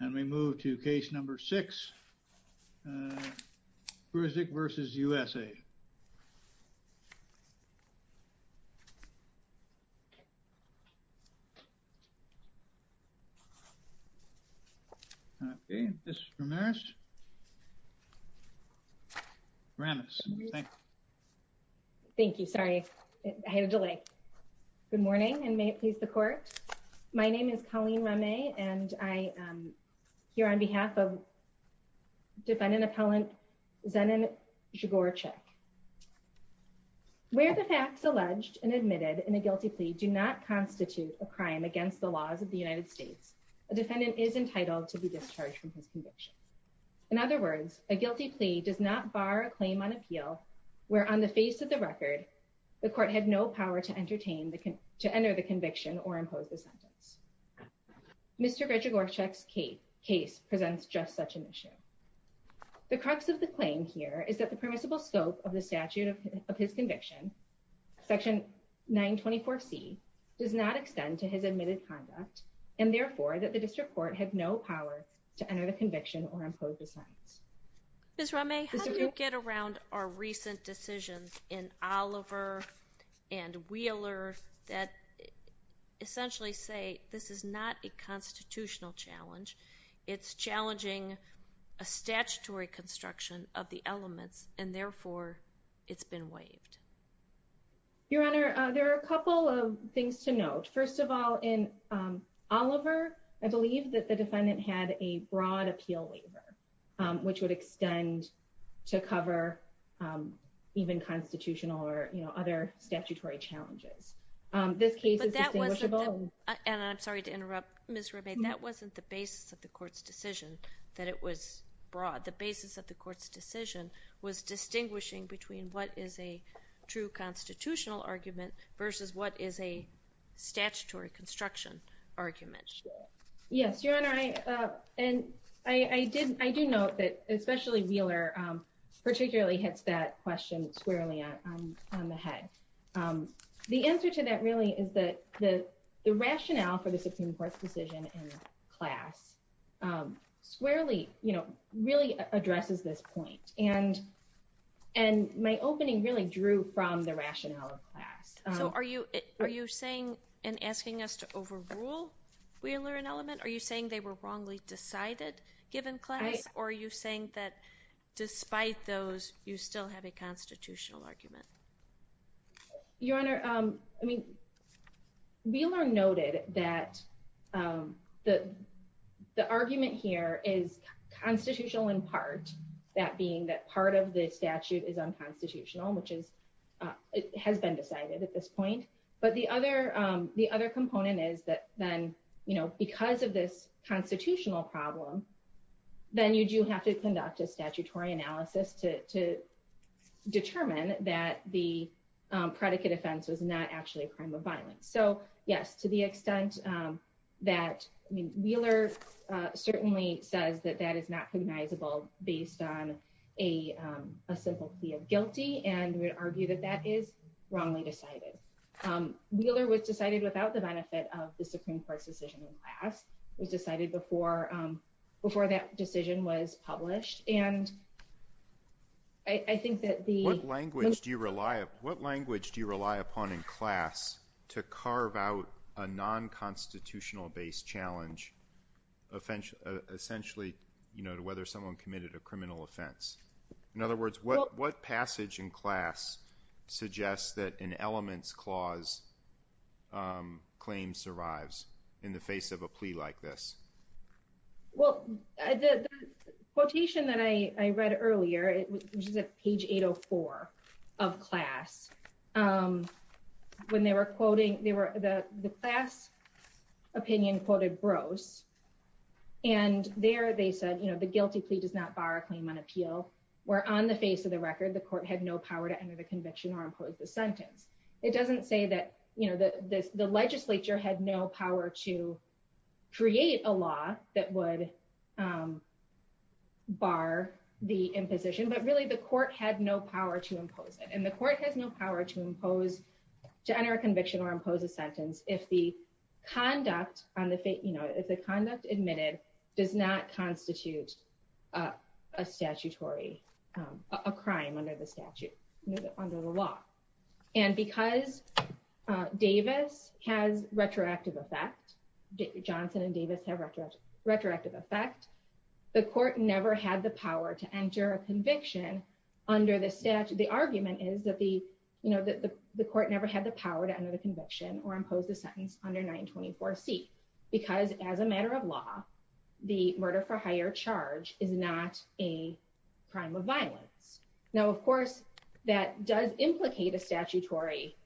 And we move to case number six, Grzegorczyk versus USA. Okay, Ms. Ramirez. Ramirez, thank you. Thank you, sorry, I had a delay. My name is Colleen Ramirez and I am here on behalf of defendant appellant Zenon Grzegorczyk. Where the facts alleged and admitted in a guilty plea do not constitute a crime against the laws of the United States, a defendant is entitled to be discharged from his conviction. In other words, a guilty plea does not bar a claim on appeal where on the face of the record, the court had no power to entertain, to enter the conviction or impose the sentence. Mr. Grzegorczyk's case presents just such an issue. The crux of the claim here is that the permissible scope of the statute of his conviction, section 924C, does not extend to his admitted conduct and therefore that the district court had no power to enter the conviction or impose the sentence. Ms. Ramey, how do you get around our recent decisions in Oliver and Wheeler that essentially say this is not a constitutional challenge, it's challenging a statutory construction of the elements and therefore it's been waived? Your Honor, there are a couple of things to note. First of all, in Oliver, I believe that the defendant had a broad appeal waiver, which would extend to cover even constitutional or other statutory challenges. This case is distinguishable. And I'm sorry to interrupt, Ms. Ramey, that wasn't the basis of the court's decision that it was broad. The basis of the court's decision was distinguishing between what is a true constitutional argument versus what is a statutory construction argument. Yes, Your Honor, and I do note that especially Wheeler particularly hits that question squarely on the head. The answer to that really is that the rationale for the Supreme Court's decision in class squarely really addresses this point. And my opening really drew from the rationale of class. So are you saying and asking us to overrule Wheeler and element? Are you saying they were wrongly decided given class? Or are you saying that despite those, you still have a constitutional argument? Your Honor, I mean, Wheeler noted that the argument here is constitutional in part, that being that part of the statute is unconstitutional, which has been decided at this point. But the other component is that then, because of this constitutional problem, then you do have to conduct a statutory analysis to determine that the predicate offense was not actually a crime of violence. So yes, to the extent that Wheeler certainly says that that is not cognizable based on a simple plea of guilty and would argue that that is wrongly decided. Wheeler was decided without the benefit of the Supreme Court's decision in class. It was decided before that decision was published. And I think that the- What language do you rely upon in class to carve out a non-constitutional based challenge essentially to whether someone committed a criminal offense? In other words, what passage in class suggests that an elements clause claim survives in the face of a plea like this? Well, the quotation that I read earlier, which is at page 804 of class, when they were quoting, the class opinion quoted Brose, and there they said, you know, the court cannot bar a claim on appeal where on the face of the record, the court had no power to enter the conviction or impose the sentence. It doesn't say that, you know, the legislature had no power to create a law that would bar the imposition, but really the court had no power to impose it. And the court has no power to impose, to enter a conviction or impose a sentence if the conduct on the face, you know, if the conduct admitted does not constitute a statutory, a crime under the statute, under the law. And because Davis has retroactive effect, Johnson and Davis have retroactive effect, the court never had the power to enter a conviction under the statute. The argument is that the, you know, that the court never had the power to enter the conviction or impose the sentence under 924C because as a matter of law, the murder for higher charge is not a crime of violence. Now, of course, that does implicate a statutory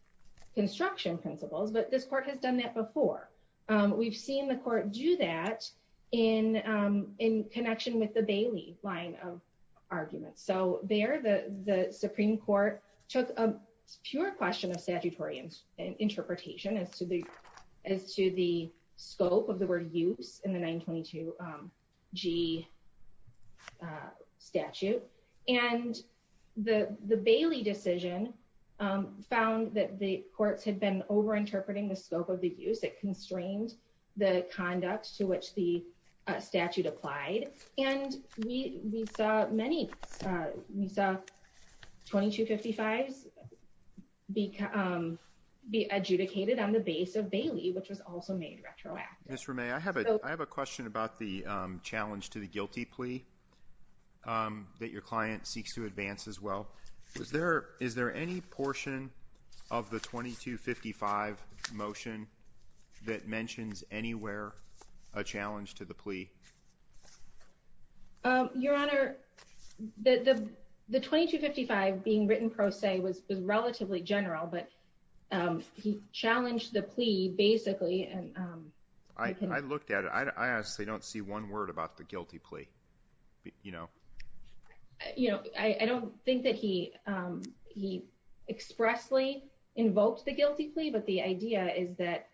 construction principles, but this court has done that before. We've seen the court do that in connection with the Bailey line of arguments. So there, the Supreme Court took a pure question of statutory interpretation as to the scope of the word use in the 922G statute. And the Bailey decision found that the courts had been over-interpreting the scope of the use. It constrained the conduct to which the statute applied. And we saw many, we saw 2255s be adjudicated on the base of Bailey, which was also made retroactive. Ms. Ramey, I have a question about the challenge to the guilty plea that your client seeks to advance as well. Is there any portion of the 2255 motion that mentions anywhere a challenge to the plea? Your Honor, the 2255 being written pro se was relatively general, but he challenged the plea basically, and- I looked at it. I honestly don't see one word about the guilty plea. I don't think that he expressly invoked the guilty plea, but the idea is that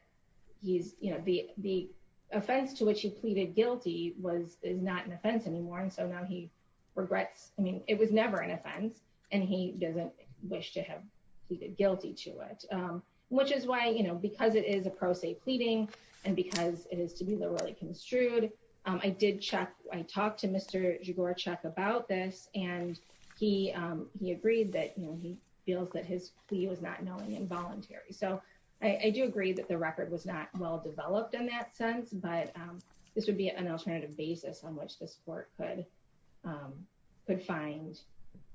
the offense to which he pleaded guilty is not an offense anymore. And so now he regrets, I mean, it was never an offense and he doesn't wish to have pleaded guilty to it, which is why, you know, because it is a pro se pleading and because it is to be literally construed, I did check, I talked to Mr. Zhigorychuk about this and he agreed that, you know, he feels that his plea was not knowing involuntary. So I do agree that the record was not well-developed in that sense, but this would be an alternative basis on which this court could find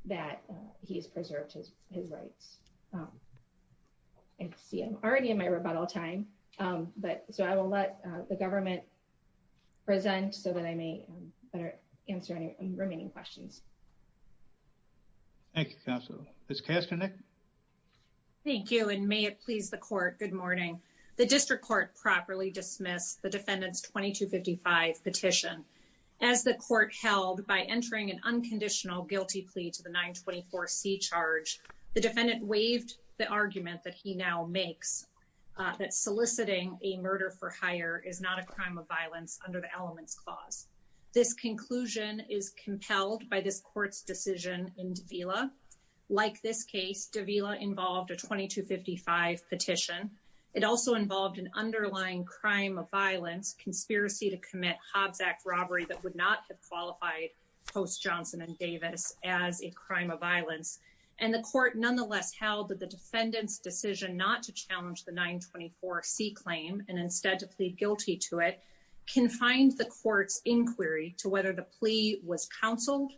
that he has preserved his rights. I see I'm already in my rebuttal time, but so I will let the government present so that I may better answer any remaining questions. Thank you, counsel. Ms. Kasternik? Thank you, and may it please the court, good morning. The district court properly dismissed the defendant's 2255 petition. As the court held by entering an unconditional guilty plea to the 924C charge, the defendant waived the argument that he now makes that soliciting a murder for hire is not a crime of violence under the elements clause. This conclusion is compelled by this court's decision in Davila. Like this case, Davila involved a 2255 petition. It also involved an underlying crime of violence, conspiracy to commit Hobbs Act robbery that would not have qualified Post Johnson and Davis as a crime of violence. And the court nonetheless held that the defendant's decision not to challenge the 924C claim and instead to plead guilty to it, confined the court's inquiry to whether the plea was counseled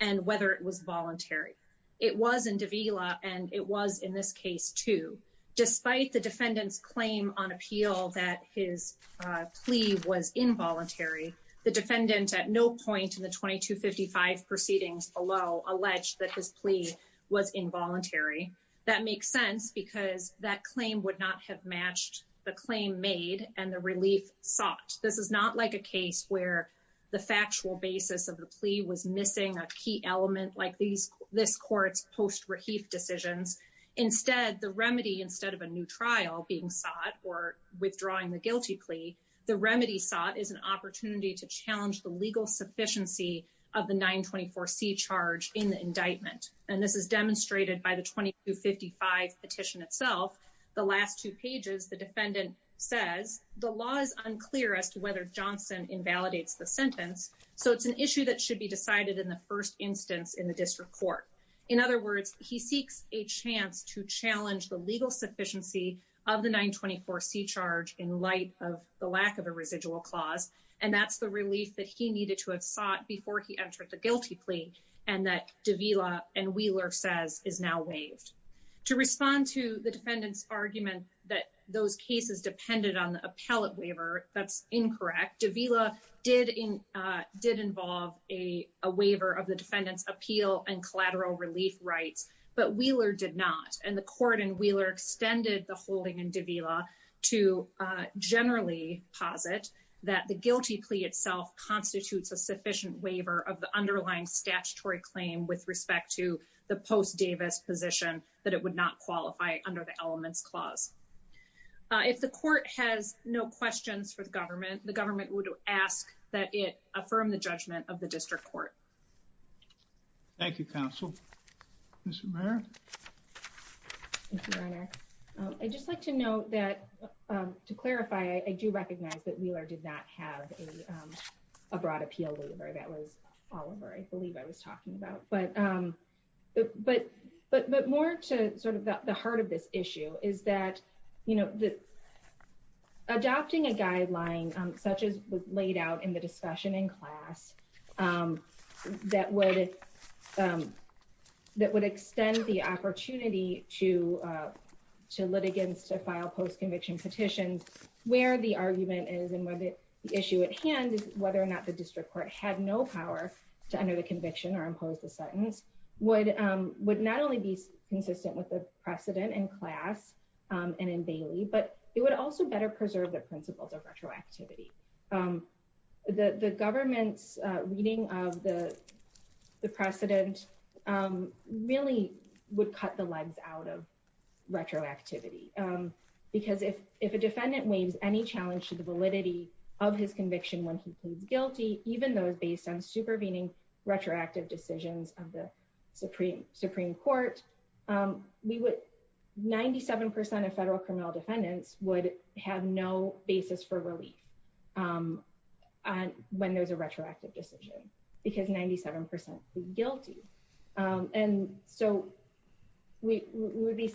and whether it was voluntary. It was in Davila, and it was in this case too. Despite the defendant's claim on appeal that his plea was involuntary, the defendant at no point in the 2255 proceedings below alleged that his plea was involuntary. That makes sense because that claim would not have matched the claim made and the relief sought. This is not like a case where the factual basis of the plea was missing a key element like this court's post-reheaf decisions. Instead, the remedy, instead of a new trial being sought or withdrawing the guilty plea, the remedy sought is an opportunity to challenge the legal sufficiency of the 924C charge in the indictment. And this is demonstrated by the 2255 petition itself. The last two pages, the defendant says, the law is unclear as to whether Johnson invalidates the sentence. So it's an issue that should be decided in the first instance in the district court. In other words, he seeks a chance to challenge the legal sufficiency of the 924C charge in light of the lack of a residual clause. And that's the relief that he needed to have sought before he entered the guilty plea and that Davila and Wheeler says is now waived. To respond to the defendant's argument that those cases depended on the appellate waiver, that's incorrect. Davila did involve a waiver of the defendant's appeal and collateral relief rights, but Wheeler did not. And the court in Wheeler extended the holding in Davila to generally posit that the guilty plea itself constitutes a sufficient waiver of the underlying statutory claim with respect to the post Davis position that it would not qualify under the elements clause. If the court has no questions for the government, the government would ask that it affirm the judgment of the district court. Thank you, counsel. Ms. Romero. Thank you, Renner. I'd just like to note that to clarify, I do recognize that Wheeler did not have a broad appeal waiver that was Oliver, I believe I was talking about, but more to sort of the heart of this issue is that, adopting a guideline such as was laid out in the discussion in class that would extend the opportunity to litigants to file post conviction petitions where the argument is and where the issue at hand is whether or not the district court had no power to enter the conviction or impose the sentence would not only be consistent with the precedent in class and in Bailey, but it would also better preserve the principles of retroactivity. The government's reading of the precedent really would cut the legs out of retroactivity because if a defendant waves any challenge to the validity of his conviction when he pleads guilty, even though it's based on supervening retroactive decisions of the Supreme Court, 97% of federal criminal defendants would have no basis for relief. And when there's a retroactive decision because 97% would be guilty. And so we would be,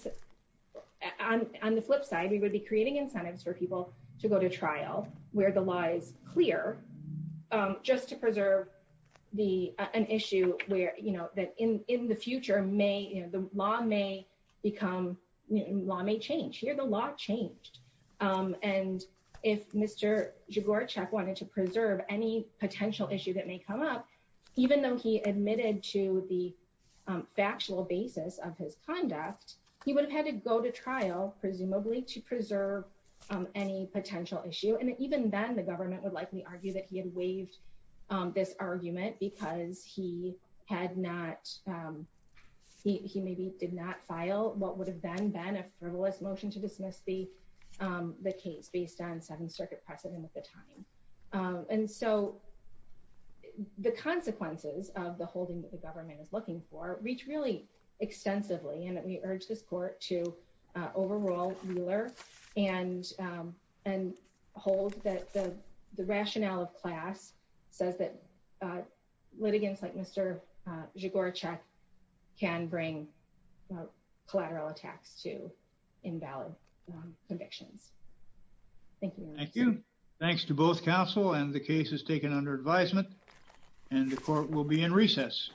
on the flip side, we would be creating incentives for people to go to trial where the law is clear just to preserve the, an issue where, you know, that in the future may, the law may become, law may change, here the law changed. And if Mr. Jogoracek wanted to preserve any potential issue that may come up, even though he admitted to the factual basis of his conduct, he would have had to go to trial presumably to preserve any potential issue. And even then the government would likely argue that he had waived this argument because he had not, he maybe did not file what would have been a frivolous motion to dismiss the case based on Seventh Circuit precedent at the time. And so the consequences of the holding that the government is looking for reach really extensively. And we urge this court to overrule Mueller and hold that the rationale of class says that litigants like Mr. Jogoracek can bring collateral attacks to invalid convictions. Thank you. Thank you. Thanks to both counsel and the cases taken under advisement and the court will be in recess.